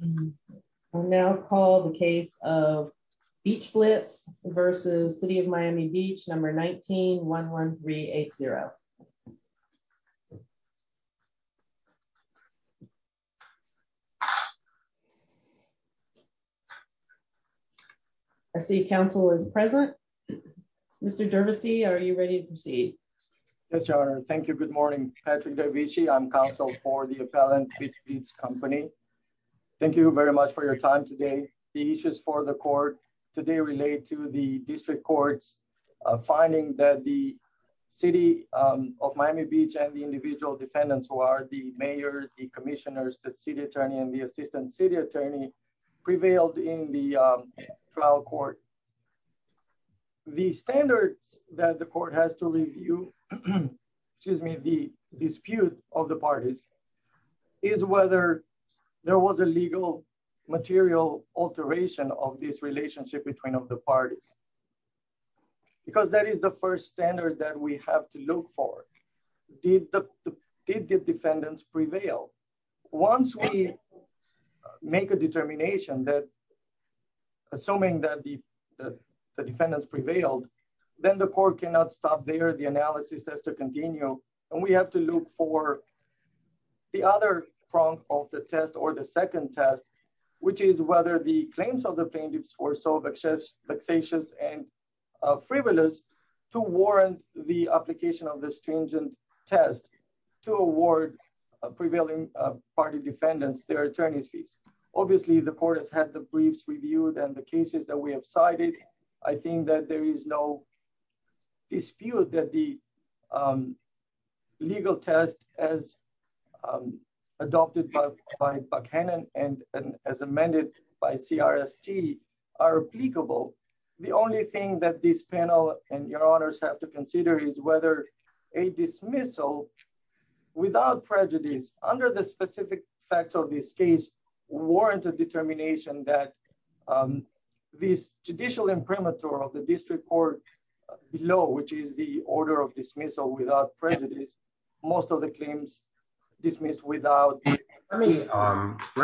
v. City of Miami Beach, Florida, 19-11380. I see Council is present. Mr. Dervisy, are you ready to proceed? Yes, Your Honor. Thank you. Good morning, Patrick Dervisy. I'm counsel for the appellant Beach Beats Company. Thank you very much for your time today. The issues for the court today relate to the district courts finding that the City of Miami Beach and the individual defendants who are the mayor, the commissioners, the city attorney, and the assistant city attorney prevailed in the trial court. The standards that the court has to review, excuse me, the dispute of the parties is whether there was a legal material alteration of this relationship between of the parties. Because that is the first standard that we have to look for. Did the defendants prevail? Once we make a determination that assuming that the defendants prevailed, then the court cannot stop there. The analysis has to continue. And we have to look for the other prong of the test or the second test, which is whether the claims of the plaintiffs were so vexatious and frivolous to warrant the application of the stringent test to award prevailing party defendants their attorney's fees. Obviously the court has had the briefs reviewed and the cases that we have cited. I think that there is no dispute that the legal test as adopted by Buchanan and as amended by CRST are applicable. The only thing that this panel and your honors have to consider is whether a dismissal without prejudice under the specific facts of this case warranted determination that this judicial imprimatur of the district court below, which is the order of dismissal without prejudice, most of the claims dismissed without. Let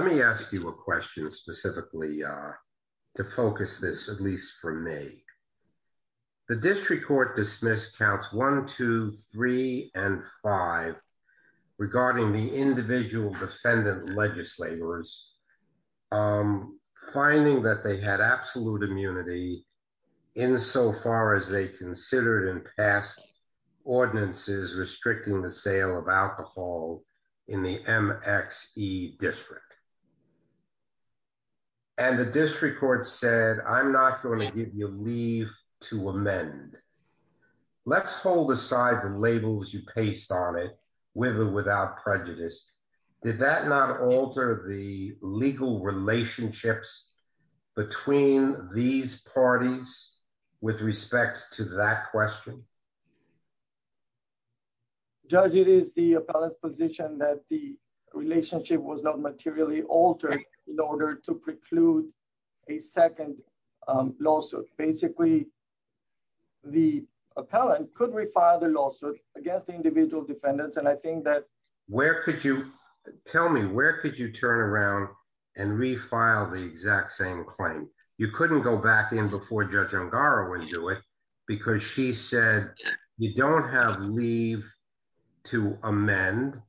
me ask you a question specifically to focus this, at least for me. The district court dismissed counts one, two, three, and five regarding the individual defendant legislators, finding that they had absolute immunity insofar as they considered in past ordinances restricting the sale of alcohol in the MXE district. And the district court said, I'm not going to give you leave to amend. Let's hold aside the labels you paste on it with or without prejudice. Did that not alter the legal relationships between these parties with respect to that question? Judge, it is the appellant's position that the relationship was not materially altered in order to preclude a second lawsuit. Basically, the appellant could refile the lawsuit against the individual defendants. Tell me, where could you turn around and refile the exact same claim? You couldn't go back in before Judge Ongara would do it because she said you don't have leave to amend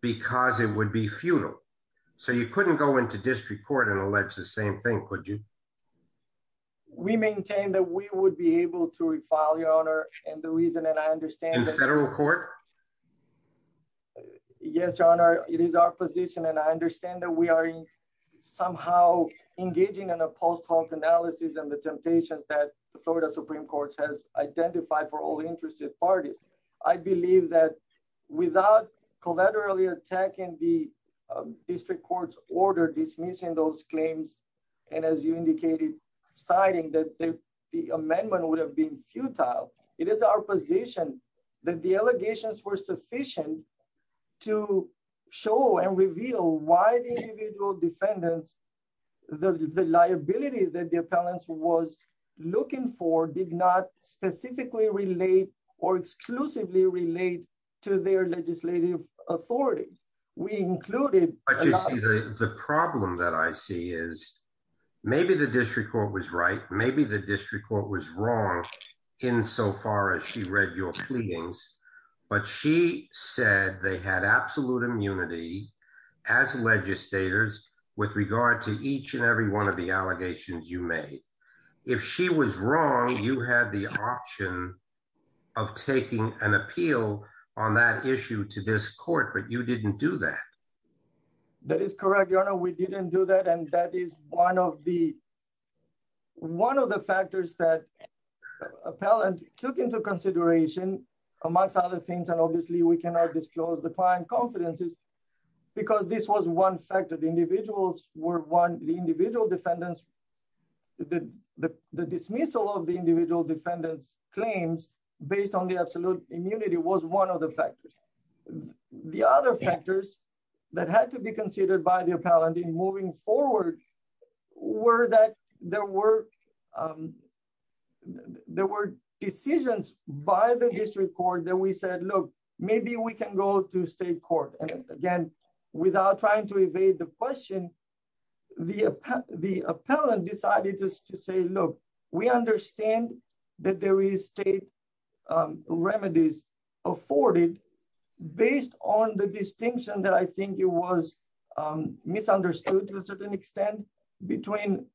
because it would be futile. So you couldn't go into district court and allege the same thing, could you? We maintain that we would be able to refile, your honor. In federal court? Yes, your honor. It is our position and I understand that we are somehow engaging in a post hoc analysis and the temptations that the Florida Supreme Court has identified for all interested parties. I believe that without collaterally attacking the district court's order dismissing those claims and as you indicated, citing that the amendment would have been futile. It is our position that the allegations were sufficient to show and reveal why the individual defendants, the liability that the appellants was looking for did not specifically relate or exclusively relate to their legislative authority. The problem that I see is maybe the district court was right, maybe the district court was wrong in so far as she read your pleadings, but she said they had absolute immunity as legislators with regard to each and every one of the allegations you made. If she was wrong, you had the option of taking an appeal on that issue to this court, but you didn't do that. That is correct, your honor. We didn't do that. And that is one of the, one of the factors that appellant took into consideration amongst other things. And obviously we cannot disclose the client confidences because this was one factor. The individuals were one, the individual defendants, the dismissal of the individual defendants claims based on the absolute immunity was one of the factors. The other factors that had to be considered by the appellant in moving forward were that there were decisions by the district court that we said, look, maybe we can go to state court. And again, without trying to evade the question, the appellant decided to say, look, we understand that there is state remedies afforded based on the distinction that I think it was misunderstood to a certain extent between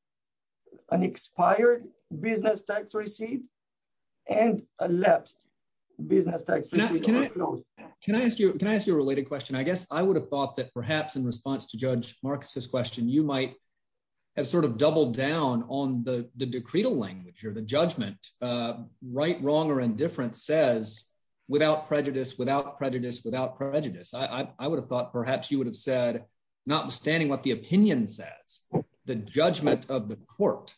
an expired business tax receipt and elapsed business tax receipt. Can I ask you, can I ask you a related question, I guess I would have thought that perhaps in response to Judge Marcus's question you might have sort of doubled down on the decretal language or the judgment, right, wrong or indifferent says without prejudice, without prejudice, without prejudice, I would have thought perhaps you would have said, notwithstanding what the opinion says, the judgment of the court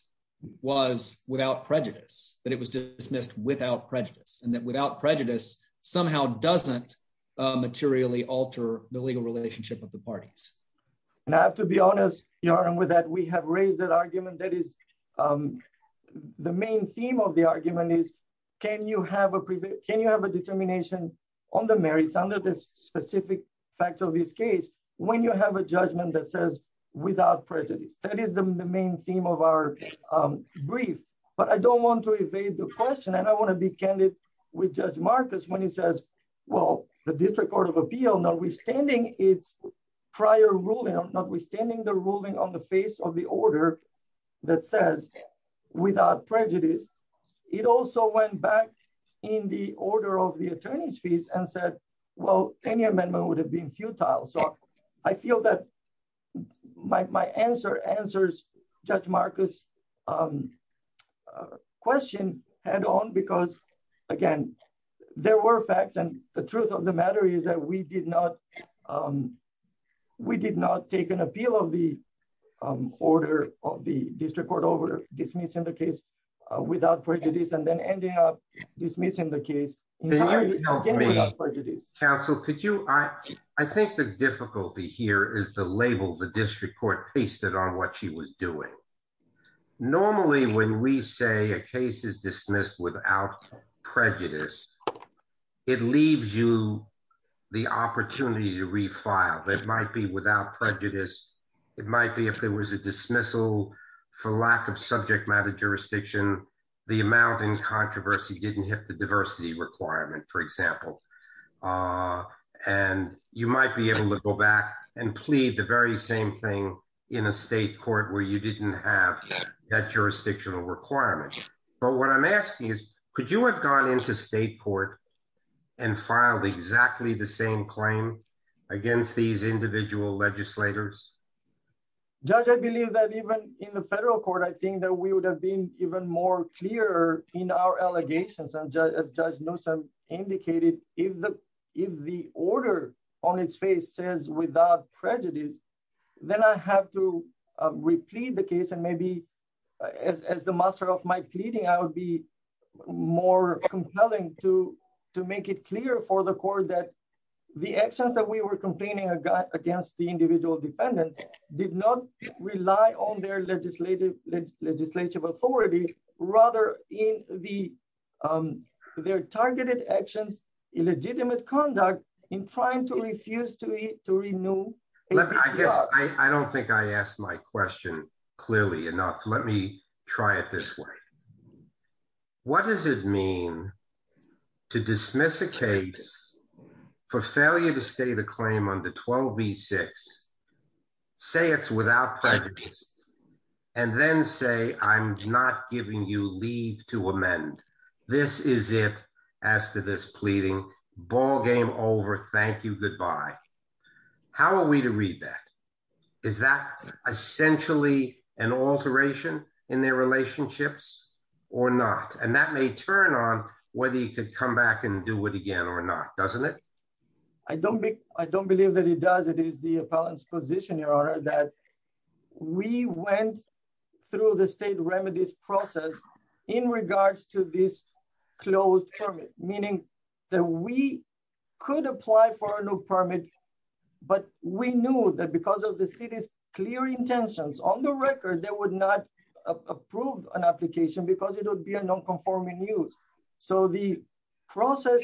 was without prejudice, that it was dismissed without prejudice and that without prejudice, somehow doesn't materially alter the legal relationship of the parties. And I have to be honest, you're on with that we have raised that argument that is the main theme of the argument is, can you have a prevent can you have a determination on the merits under this specific facts of this case, when you have a judgment that says, without prejudice, that is the main theme of our brief, but I don't want to evade the question and I want to be candid with Judge Marcus when he says, well, the District Court of Appeal notwithstanding its prior ruling notwithstanding the ruling on the face of the order that says, without prejudice. It also went back in the order of the attorneys fees and said, well, any amendment would have been futile so I feel that my answer answers. Judge Marcus question, and on because, again, there were facts and the truth of the matter is that we did not, we did not take an appeal of the order of the district court over dismissing the case without prejudice and then ending up dismissing the case prejudice council could you I, I think the difficulty here is the label the district court based it on what she was doing. Normally when we say a case is dismissed without prejudice. It leaves you the opportunity to refile that might be without prejudice. It might be if there was a dismissal for lack of subject matter jurisdiction, the amount in controversy didn't hit the diversity requirement for example, and you might be able to go back and and filed exactly the same claim against these individual legislators. Judge I believe that even in the federal court I think that we would have been even more clear in our allegations and just as Judge Nelson indicated, if the, if the order on its face says without prejudice. Then I have to repeat the case and maybe as the master of my pleading I would be more compelling to to make it clear for the court that the actions that we were complaining against the individual defendant did not rely on their legislative legislative authority, rather in the their targeted actions illegitimate conduct in trying to refuse to eat to renew. I don't think I asked my question, clearly enough, let me try it this way. What does it mean to dismiss a case for failure to stay the claim on the 12 v six. Say it's without prejudice, and then say, I'm not giving you leave to amend. This is it. As to this pleading ballgame over thank you goodbye. How are we to read that. Is that essentially an alteration in their relationships or not, and that may turn on whether you could come back and do it again or not, doesn't it. I don't think I don't believe that he does it is the appellant's position your honor that we went through the state remedies process in regards to this closed permit, meaning that we could apply for a new permit. But we knew that because of the city's clear intentions on the record that would not approve an application because it would be a non conforming use. So the process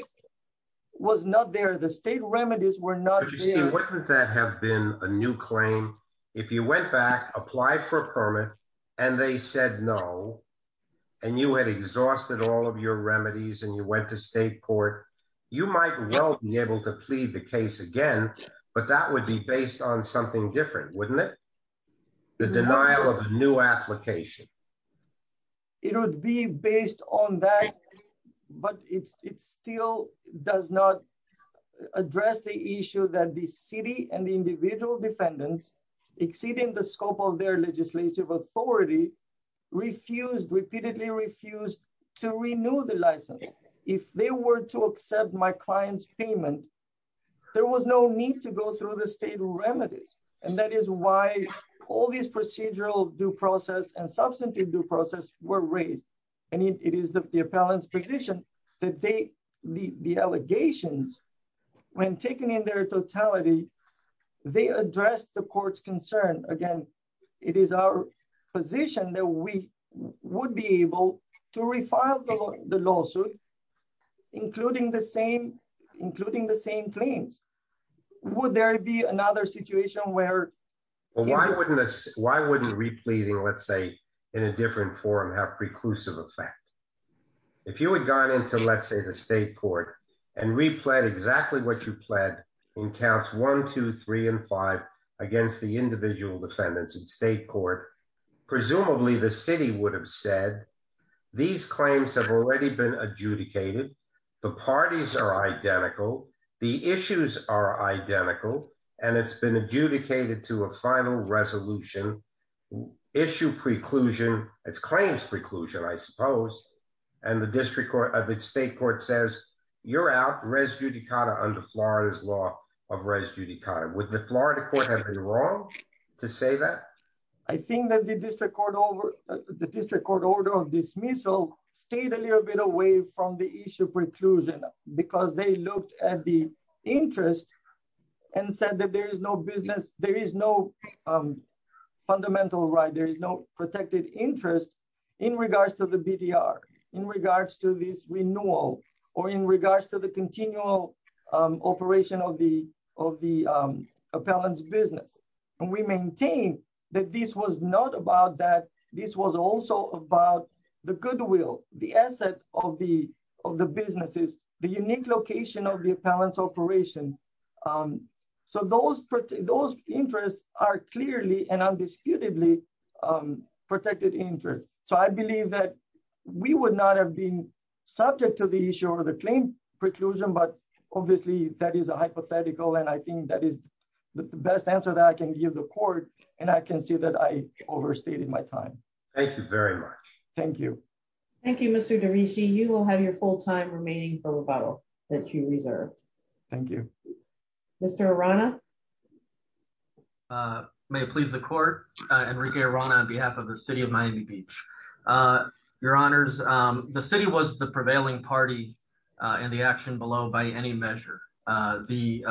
was not there the state remedies were not that have been a new claim. If you went back, apply for a permit. And they said no. And you had exhausted all of your remedies and you went to state court, you might be able to plead the case again, but that would be based on something different, wouldn't it. The denial of new application. It would be based on that, but it's still does not address the issue that the city and the individual defendants exceeding the scope of their legislative authority refused repeatedly refused to renew the license. If they were to accept my clients payment. There was no need to go through the state remedies, and that is why all these procedural due process and substantive due process were raised. And it is the appellant's position that they leave the allegations. When taking in their totality. They address the court's concern again. It is our position that we would be able to refile the lawsuit, including the same, including the same claims. Would there be another situation where. Why wouldn't this, why wouldn't repleting let's say in a different forum have preclusive effect. If you had gone into let's say the state court and replayed exactly what you pled in counts 123 and five against the individual defendants and state court. Presumably the city would have said, these claims have already been adjudicated. The parties are identical. The issues are identical, and it's been adjudicated to a final resolution issue preclusion, it's claims preclusion I suppose. I think that the district court over the district court order of dismissal stayed a little bit away from the issue preclusion, because they looked at the interest and said that there is no business, there is no fundamental right there is no protected interest in regards to the BTR. In regards to this renewal, or in regards to the continual operation of the, of the appellants business, and we maintain that this was not about that. This was also about the goodwill, the asset of the, of the businesses, the unique location of the appellants operation. So those, those interests are clearly and undisputedly protected interest. So I believe that we would not have been subject to the issue of the claim preclusion but obviously that is a hypothetical and I think that is the best answer that I can give the court, and I can see that I overstated my time. Thank you very much. Thank you. Thank you. Thank you, Mr DaVinci you will have your full time remaining for rebuttal that you reserve. Thank you. Mr Rana. May it please the court, and we're here on behalf of the city of Miami Beach. Your Honors, the city was the prevailing party in the action below by any measure. The.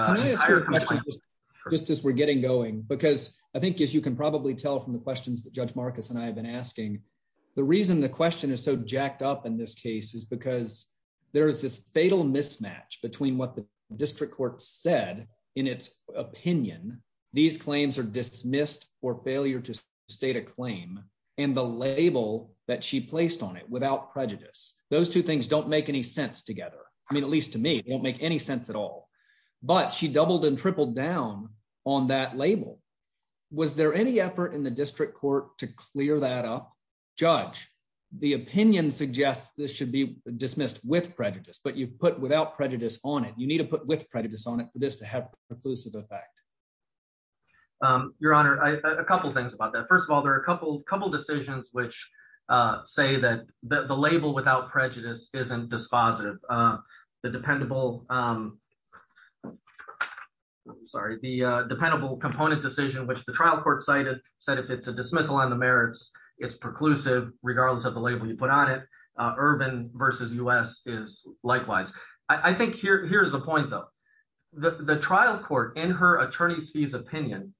Just as we're getting going, because I think as you can probably tell from the questions that Judge Marcus and I have been asking. The reason the question is so jacked up in this case is because there is this fatal mismatch between what the district court said, in its opinion, these claims are dismissed or failure to state a claim, and the label that she placed on it without prejudice, those two things don't make any sense together. I mean, at least to me, it won't make any sense at all. But she doubled and tripled down on that label. Was there any effort in the district court to clear that up. Judge, the opinion suggests this should be dismissed with prejudice but you've put without prejudice on it you need to put with prejudice on it for this to have a conclusive effect. Your Honor, a couple things about that. First of all, there are a couple couple decisions which say that the label without prejudice isn't dispositive. The dependable. Sorry, the dependable component decision which the trial court cited said if it's a dismissal on the merits, it's preclusive, regardless of the label you put on it. Urban versus us is likewise. I think here's the point though, the trial court in her attorney's fees opinion.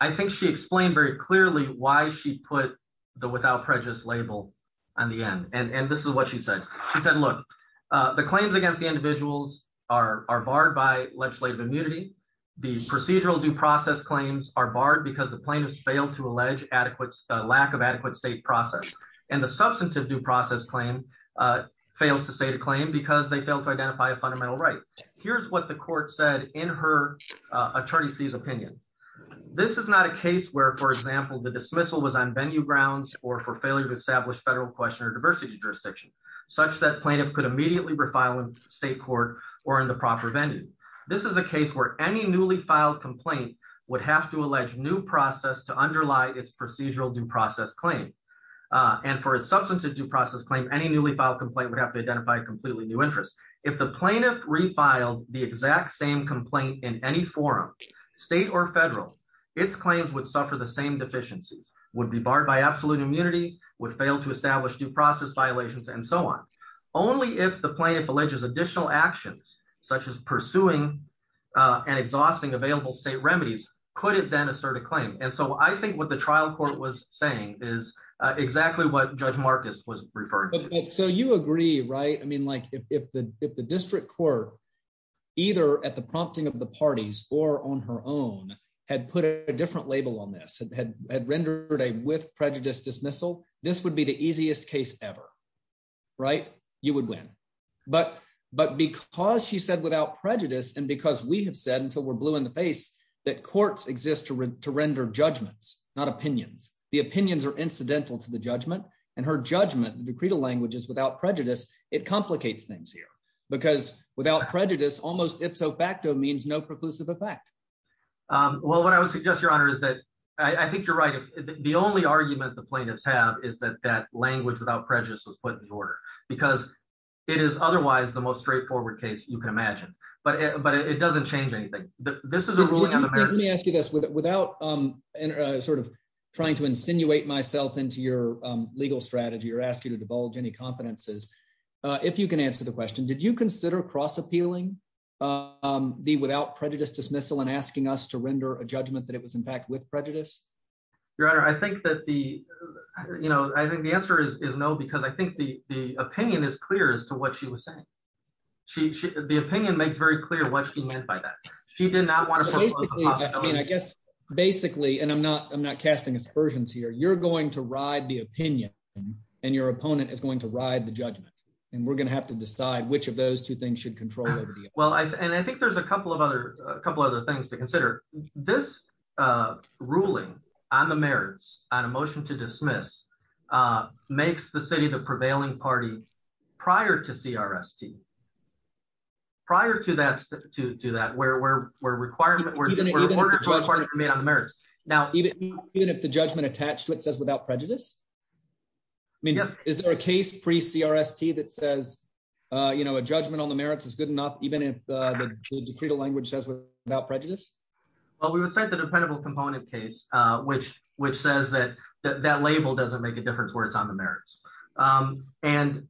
I think she explained very clearly why she put the without prejudice label on the end and this is what she said. She said look, the claims against the individuals are barred by legislative immunity. The procedural due process claims are barred because the plaintiffs failed to allege adequate lack of adequate state process, and the substantive due process claim fails to say to claim because they don't identify a fundamental right. Here's what the court said in her attorney sees opinion. This is not a case where for example the dismissal was on venue grounds or for failure to establish federal question or diversity jurisdiction, such that plaintiff could immediately refile in state court, or in the proper venue. This is a case where any newly filed complaint would have to allege new process to underlie its procedural due process claim. And for its substantive due process claim any newly filed complaint would have to identify completely new interest. If the plaintiff refiled the exact same complaint in any forum, state or federal, its claims would suffer the same deficiencies would be barred by absolute immunity would fail to establish due process violations and so on. Only if the plaintiff alleges additional actions, such as pursuing an exhausting available state remedies, could it then assert a claim and so I think what the trial court was saying is exactly what dismissal. This would be the easiest case ever. Right, you would win. But, but because she said without prejudice and because we have said until we're blue in the face that courts exist to render judgments, not opinions, the opinions are incidental to the judgment, and her judgment decreed a languages without prejudice, it complicates things here, because without prejudice almost ipso facto means no preclusive effect. Well, what I would suggest your honor is that I think you're right. The only argument the plaintiffs have is that that language without prejudice was put in order, because it is otherwise the most straightforward case you can imagine, but it doesn't change anything. Let me ask you this without sort of trying to insinuate myself into your legal strategy or ask you to divulge any competencies. If you can answer the question, did you consider cross appealing the without prejudice dismissal and asking us to render a judgment that it was in fact with prejudice. Your Honor, I think that the, you know, I think the answer is no because I think the, the opinion is clear as to what she was saying. She, the opinion makes very clear what she meant by that she did not want to. I guess, basically, and I'm not I'm not casting aspersions here you're going to ride the opinion, and your opponent is going to ride the judgment, and we're going to have to decide which of those two things should control. Well, I think there's a couple of other couple other things to consider this ruling on the merits on a motion to dismiss makes the city the prevailing party. Prior to CRS T. Prior to that, to that where we're, we're requiring that we're going to be on the merits. Now, even if the judgment attached to it says without prejudice. I mean, is there a case pre CRS T that says, you know, a judgment on the merits is good enough, even if the language says without prejudice. Well, we would say the dependable component case, which, which says that that label doesn't make a difference where it's on the merits. And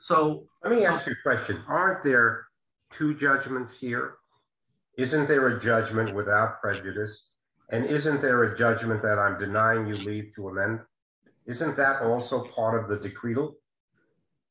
so, let me ask you a question. Aren't there two judgments here. Isn't there a judgment without prejudice. And isn't there a judgment that I'm denying you leave to amend. Isn't that also part of the decree.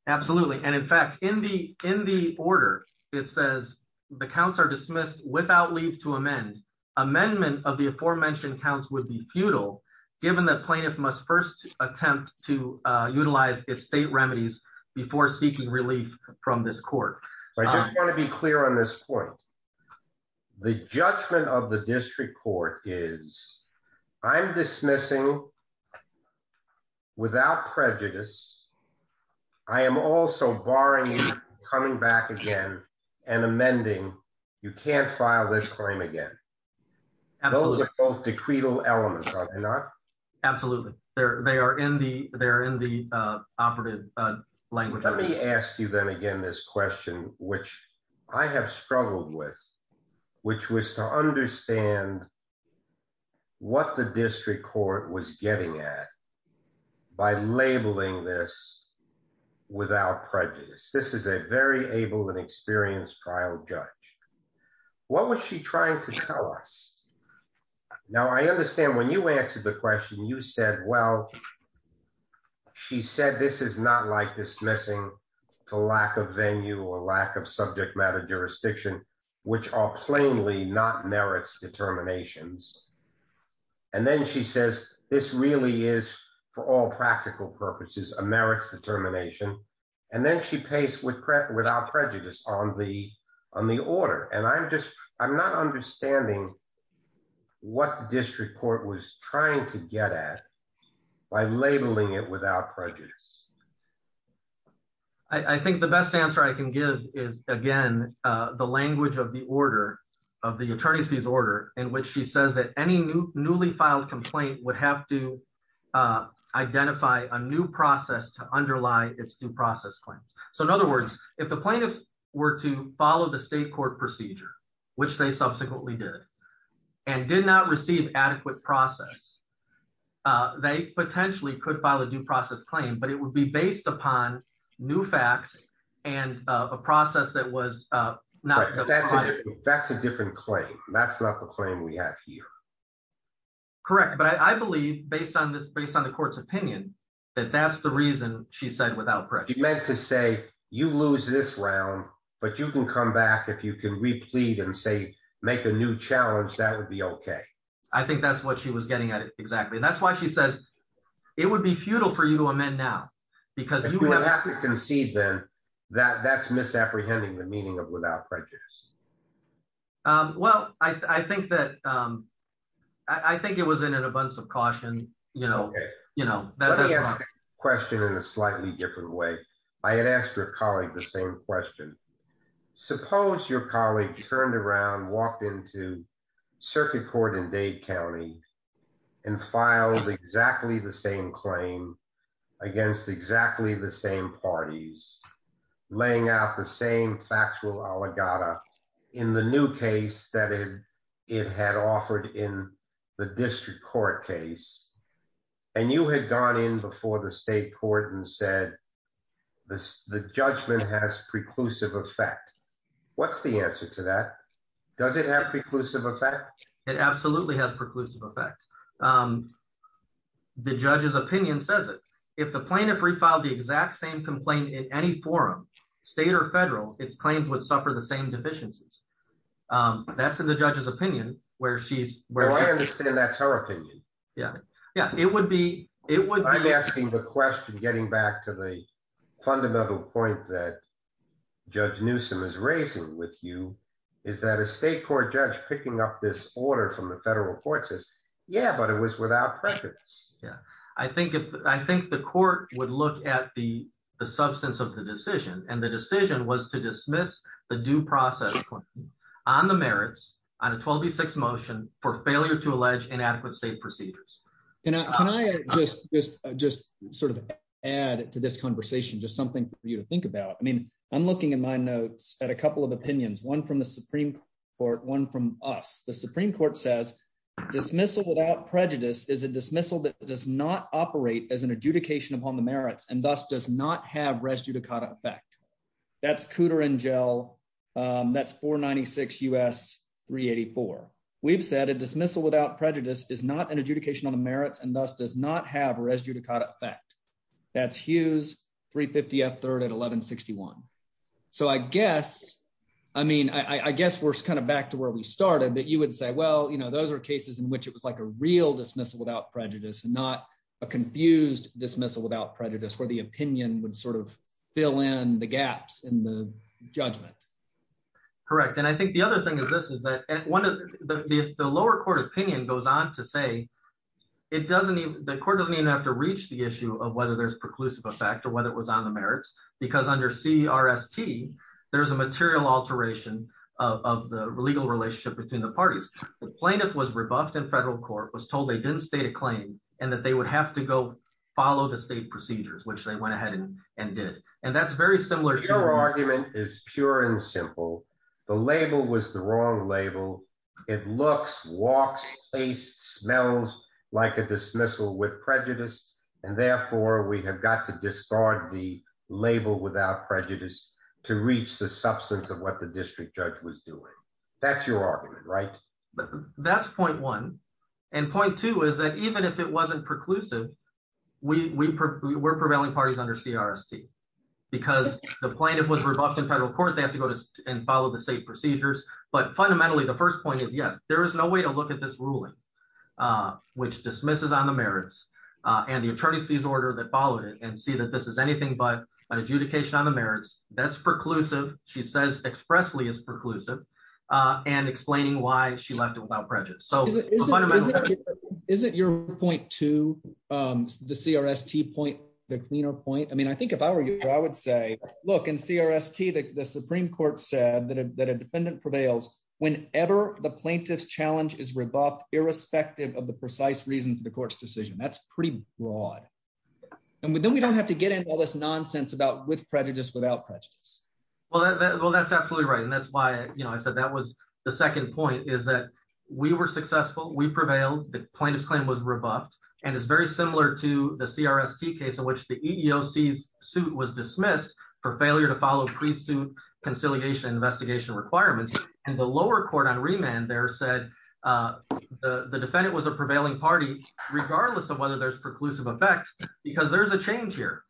Absolutely. And in fact, in the, in the order, it says the counts are dismissed without leave to amend amendment of the aforementioned counts would be futile, given that plaintiff must first attempt to utilize if state remedies before seeking relief from this court. I just want to be clear on this point. The judgment of the district court is I'm dismissing without prejudice. I am also barring coming back again and amending. You can't file this claim again. Both decreed elements are not absolutely there, they are in the, they're in the operative language, let me ask you then again this question, which I have struggled with, which was to understand what the district court was getting at by labeling this without prejudice. This is a very able and experienced trial judge. What was she trying to tell us. Now I understand when you answered the question you said well. She said this is not like dismissing the lack of venue or lack of subject matter jurisdiction, which are plainly not merits determinations. And then she says, this really is for all practical purposes, a merits determination, and then she pays with credit without prejudice on the on the order and I'm just, I'm not understanding what the district court was trying to get at by labeling it without prejudice. I think the best answer I can give is, again, the language of the order of the attorney's fees order, in which she says that any new newly filed complaint would have to identify a new process to underlie its due process claim. So in other words, if the plaintiffs were to follow the state court procedure, which they subsequently did, and did not receive adequate process. They potentially could file a due process claim but it would be based upon new facts and a process that was not that's a different claim, that's not the claim we have here. Correct, but I believe based on this based on the court's opinion that that's the reason she said without prejudice meant to say you lose this round, but you can come back if you can replete and say, make a new challenge that would be okay. I think that's what she was getting at it exactly and that's why she says it would be futile for you to amend now, because you have to concede them that that's misapprehending the meaning of without prejudice. Well, I think that I think it was in an abundance of caution, you know, you know, that question in a slightly different way. I had asked your colleague the same question. Suppose your colleague turned around walked into circuit court in Dade County and filed exactly the same claim against exactly the same parties, laying out the same factual oligarch in the new case that it, it had offered in the district court case. And you had gone in before the state court and said this, the judgment has preclusive effect. What's the answer to that. Does it have preclusive effect, it absolutely has preclusive effect. The judge's opinion says it. If the plaintiff refiled the exact same complaint in any forum, state or federal, it's claims would suffer the same deficiencies. That's in the judge's opinion, where she's where I understand that's her opinion. Yeah, yeah, it would be, it would be asking the question getting back to the fundamental point that Judge Newsome is raising with you. Is that a state court judge picking up this order from the federal court says, Yeah, but it was without prejudice. Yeah, I think, I think the court would look at the substance of the decision and the decision was to dismiss the due process on the merits on a 12 state procedures. And I just just just sort of add to this conversation just something for you to think about. I mean, I'm looking in my notes at a couple of opinions one from the Supreme Court one from us the Supreme Court says dismissal without prejudice is a dismissal that does not operate as an adjudication upon the merits and thus does not have residue to cut effect. That's cooter and gel. That's for 96 us 384, we've said a dismissal without prejudice is not an adjudication on the merits and thus does not have residue to cut effect. That's Hughes 350 at third at 1161. So I guess, I mean, I guess we're kind of back to where we started that you would say well you know those are cases in which it was like a real dismissal without prejudice and not a confused dismissal without prejudice where the opinion would sort of fill in the gaps in the judgment. Correct. And I think the other thing is this is that at one of the lower court opinion goes on to say it doesn't even the court doesn't even have to reach the issue of whether there's preclusive effect or whether it was on the merits, because under see RST, there's a material alteration of the legal relationship between the parties, the plaintiff was revoked and federal court was told they didn't state a claim, and that they would have to go follow the state procedures which they went ahead and did. And that's very similar to argument is pure and simple. The label was the wrong label. It looks walks a smells like a dismissal with prejudice, and therefore we have got to discard the label without prejudice to reach the substance of what the district judge was doing. That's your argument right. That's point one. And point two is that even if it wasn't preclusive. We were prevailing parties under CRC, because the plaintiff was revoked in federal court they have to go to and follow the state procedures, but fundamentally the first point is yes, there is no way to look at this ruling, which dismisses on the merits, and the and explaining why she left it without prejudice so isn't your point to the CRC point, the cleaner point I mean I think if I were you, I would say, look and CRC the Supreme Court said that a defendant prevails, whenever the plaintiff's challenge is revoked, irrespective of the precise reason for the court's decision that's pretty broad. And then we don't have to get into all this nonsense about with prejudice without prejudice. Well, that's absolutely right and that's why you know I said that was the second point is that we were successful we prevailed the plaintiff's claim was revoked, and it's because there's a change here.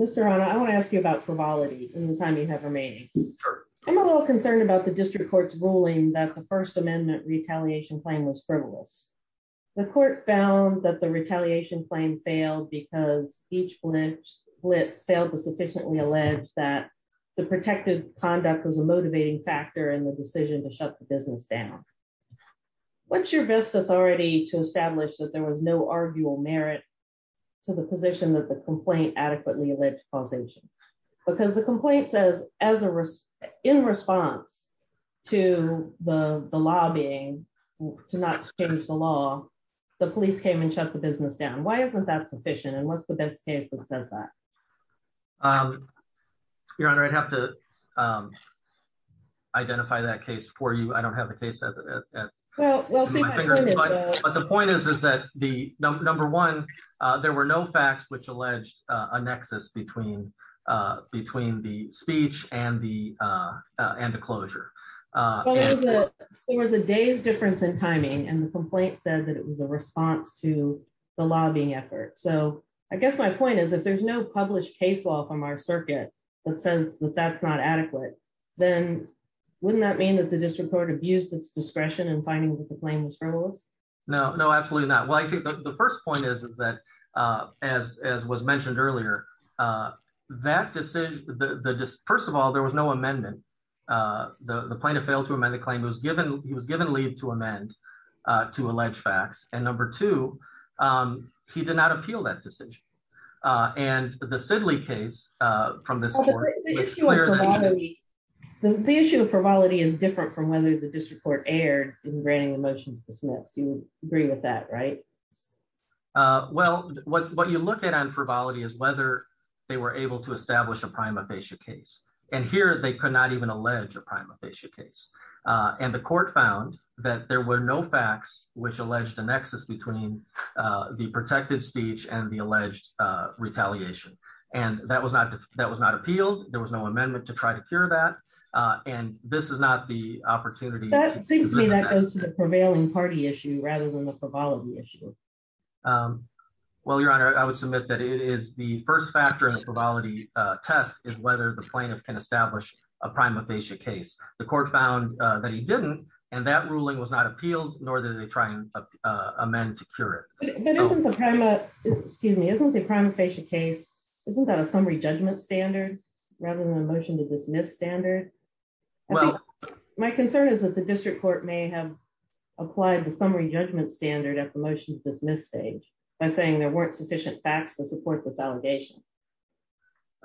Mr. I want to ask you about frivolity, and the time you have remaining. I'm a little concerned about the district court's ruling that the First Amendment retaliation claim was frivolous. The court found that the retaliation claim failed because each blitz blitz failed to sufficiently alleged that the protective conduct was a motivating factor in the decision to shut the business down. What's your best authority to establish that there was no arguable merit to the position that the complaint adequately alleged causation, because the complaint says, as a risk in response to the, the lobbying to not change the law, the police came and shut the business down why isn't that sufficient and what's the best case that says that your honor I'd have to identify that case for you I don't have a case that. But the point is, is that the number one. There were no facts which alleged a nexus between, between the speech and the, and the closure. There was a day's difference in timing and the complaint said that it was a response to the lobbying effort so I guess my point is if there's no published case law from our circuit that says that that's not adequate. Then, wouldn't that mean that the district court abused its discretion and finding that the plane was frivolous. No, no, absolutely not. Well I think the first point is, is that, as, as was mentioned earlier, that decision, the first of all there was no amendment. The point of fail to amend the claim was given, he was given leave to amend to allege facts and number two, he did not appeal that decision. And the Sidley case from this. The issue of frivolity is different from whether the district court aired in granting a motion to dismiss you agree with that right. Well, what you look at on frivolity is whether they were able to establish a prima facie case, and here they could not even allege a prima facie case, and the court found that there were no facts, which alleged a nexus between the protected speech and the alleged retaliation, and that was not that was not appealed, there was no amendment to try to cure that. And this is not the opportunity that seems to me that goes to the prevailing party issue rather than the problem issue. Well, Your Honor, I would submit that it is the first factor of frivolity test is whether the plaintiff can establish a prima facie case, the court found that he didn't, and that ruling was not appealed, nor did they try and amend to cure. Excuse me, isn't the prima facie case, isn't that a summary judgment standard, rather than a motion to dismiss standard. Well, my concern is that the district court may have applied the summary judgment standard at the motion to dismiss stage by saying there weren't sufficient facts to support this allegation.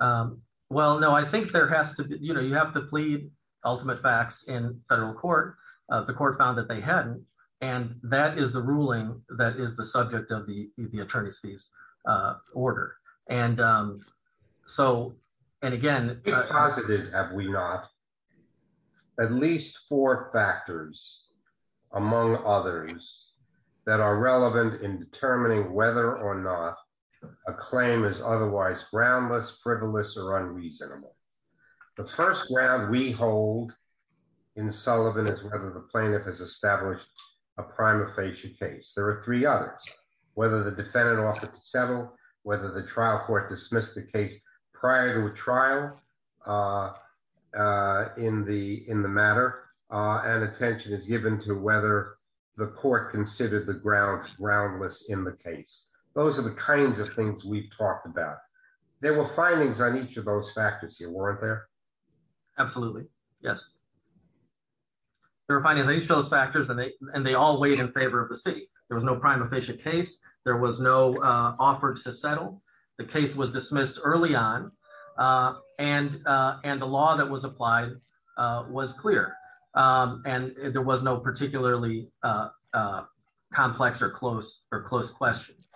Well, no, I think there has to be, you know, you have to plead ultimate facts in federal court, the court found that they hadn't. And that is the ruling that is the subject of the attorneys fees order. And so, and again, have we not at least four factors, among others that are relevant in determining whether or not a claim is otherwise groundless frivolous or unreasonable. The first round we hold in Sullivan is whether the plaintiff has established a prima facie case there are three others, whether the defendant offered to settle, whether the trial court dismissed the case prior to a trial in the, in the matter, and attention is given to whether the court considered the grounds groundless in the case. Those are the kinds of things we've talked about. There were findings on each of those factors you weren't there. Absolutely, yes. There were findings on each of those factors and they all weighed in favor of the state, there was no prima facie case, there was no offered to settle the case was dismissed early on. And, and the law that was applied was clear. And there was no particularly complex or close or close questions.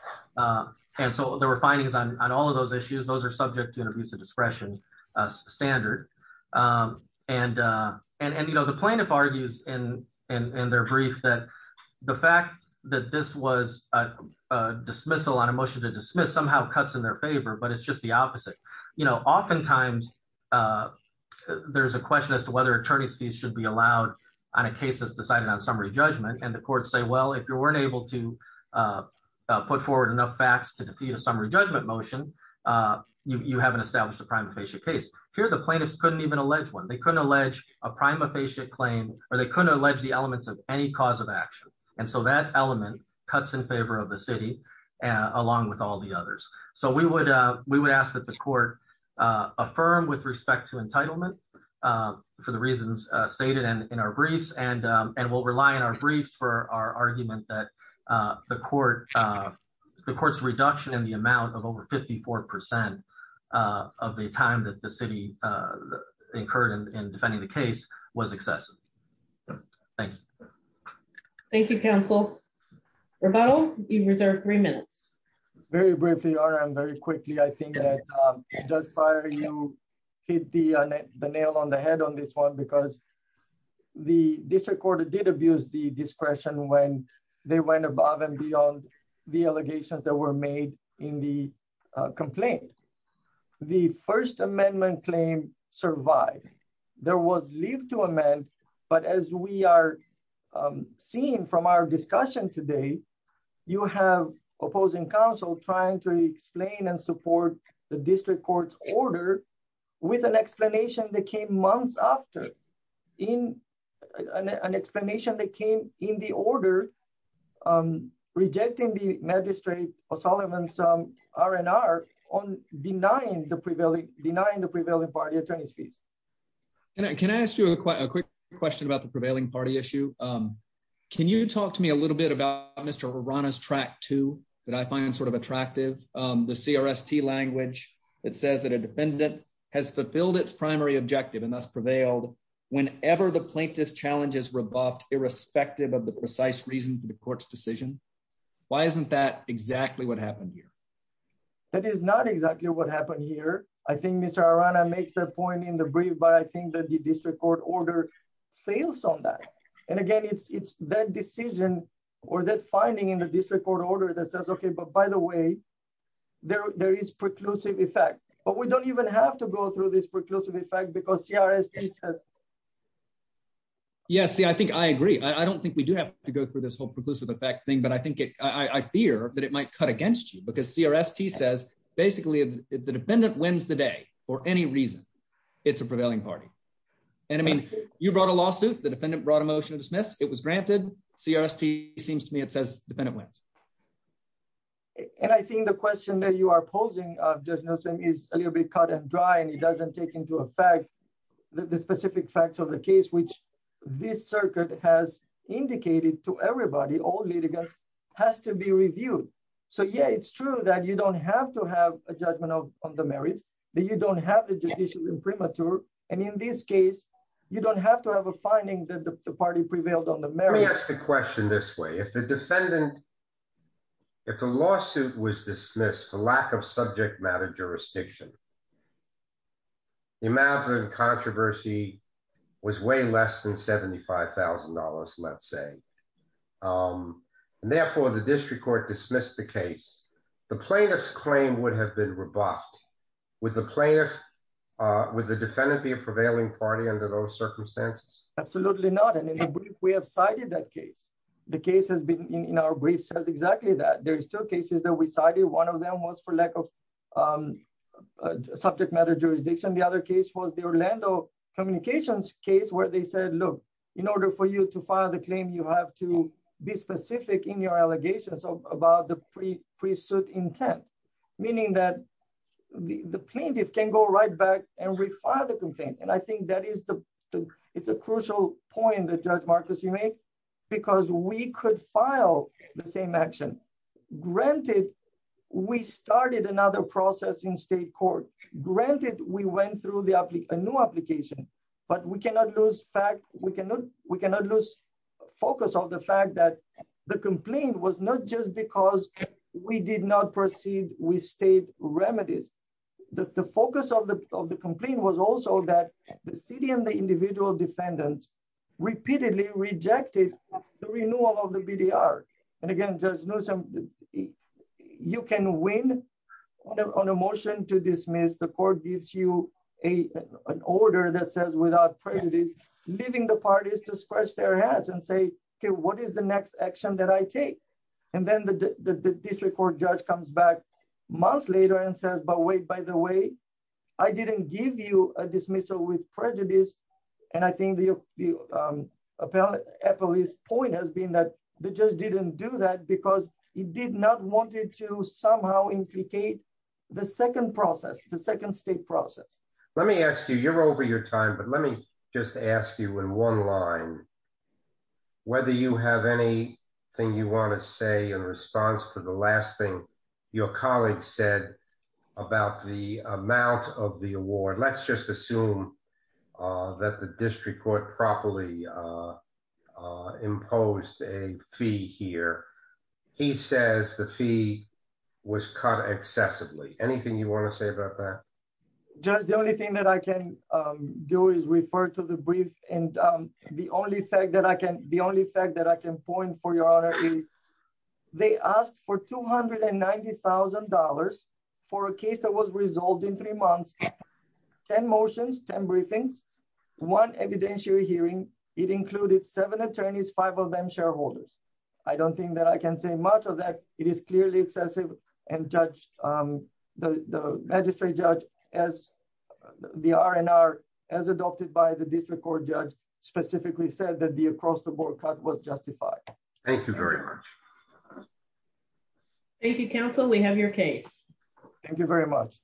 And so there were findings on all of those issues those are subject to an abuse of discretion standard. And, and you know the plaintiff argues in in their brief that the fact that this was a dismissal on a motion to dismiss somehow cuts in their favor but it's just the opposite. You know, oftentimes, there's a question as to whether attorneys fees should be allowed on a case that's decided on summary judgment and the courts say well if you weren't able to put forward enough facts to defeat a summary judgment motion. You haven't established a prima facie case here the plaintiffs couldn't even allege one they couldn't allege a prima facie claim, or they couldn't allege the elements of any cause of action. And so that element cuts in favor of the city, along with all the others. So we would, we would ask that the court, affirm with respect to entitlement. For the reasons stated and in our briefs and and we'll rely on our briefs for our argument that the court. The courts reduction in the amount of over 54% of the time that the city occurred in defending the case was excessive. Thank you. Thank you, counsel. You reserve three minutes. Very briefly are I'm very quickly I think that just prior you hit the nail on the head on this one because the district court did abuse the discretion when they went above and beyond the allegations that were made in the complaint. The First Amendment claim survived. There was leave to amend, but as we are seeing from our discussion today. You have opposing counsel trying to explain and support the district court's order with an explanation that came months after in an explanation that came in the order. I'm rejecting the magistrate or Solomon some R&R on denying the prevailing denying the prevailing party attorneys fees. And I can ask you a quick question about the prevailing party issue. Can you talk to me a little bit about Mr. Rana's track to that I find sort of attractive. The CRS T language that says that a defendant has fulfilled its primary objective and thus prevailed whenever the plaintiff's challenges were buffed irrespective of the precise reason for the court's decision. Why isn't that exactly what happened here. That is not exactly what happened here. I think Mr Rana makes a point in the brief but I think that the district court order fails on that. And again, it's that decision, or that finding in the district court order that says okay but by the way, there is preclusive effect, but we don't even have to go through this preclusive effect because CRS. Yes, I think I agree. I don't think we do have to go through this whole preclusive effect thing but I think it, I fear that it might cut against you because CRS T says, basically, the defendant wins the day, or any reason. It's a prevailing party. And I mean, you brought a lawsuit, the defendant brought a motion to dismiss it was granted CRS T seems to me it says dependent wins. And I think the question that you are posing just noticing is a little bit cut and dry and it doesn't take into effect. The specific facts of the case which this circuit has indicated to everybody all litigants has to be reviewed. So yeah, it's true that you don't have to have a judgment of the merits that you don't have the judicial imprimatur. And in this case, you don't have to have a finding that the party prevailed on the merits the question this way if the defendant. If the lawsuit was dismissed for lack of subject matter jurisdiction. Imagine controversy was way less than $75,000, let's say. And therefore the district court dismissed the case, the plaintiff's claim would have been robust with the player with the defendant be a prevailing party under those circumstances. Absolutely not. And then we have cited that case. The case has been in our brief says exactly that there's two cases that we cited one of them was for lack of subject matter jurisdiction. The other case was the Orlando communications case where they said look, in order for you to file the claim you have to be specific in your allegations of about the pre pre suit intent, meaning that the plaintiff can go right back and refile the complaint And I think that is the, it's a crucial point that judge Marcus you make, because we could file the same action. Granted, we started another process in state court, granted, we went through the application new application, but we cannot lose fact, we cannot, we The city and the individual defendant repeatedly rejected the renewal of the VDR. And again, just know some. You can win on a motion to dismiss the court gives you a, an order that says without prejudice, leaving the parties to scratch their heads and say, Okay, what is the next action that I take. And then the district court judge comes back months later and says but wait, by the way, I didn't give you a dismissal with prejudice. And I think the appellee's point has been that they just didn't do that because he did not want it to somehow implicate the to the last thing your colleagues said about the amount of the award let's just assume that the district court properly imposed a fee here. He says the fee was cut excessively anything you want to say about that. Just the only thing that I can do is refer to the brief, and the only fact that I can the only fact that I can point for your honor. They asked for $290,000 for a case that was resolved in three months. 10 motions 10 briefings one evidentiary hearing it included seven attorneys five of them shareholders. I don't think that I can say much of that it is clearly excessive and judge the magistrate judge, as the RNR, as adopted by the district court judge specifically said that the across the board cut was justified. Thank you very much. Thank you counsel we have your case. Thank you very much.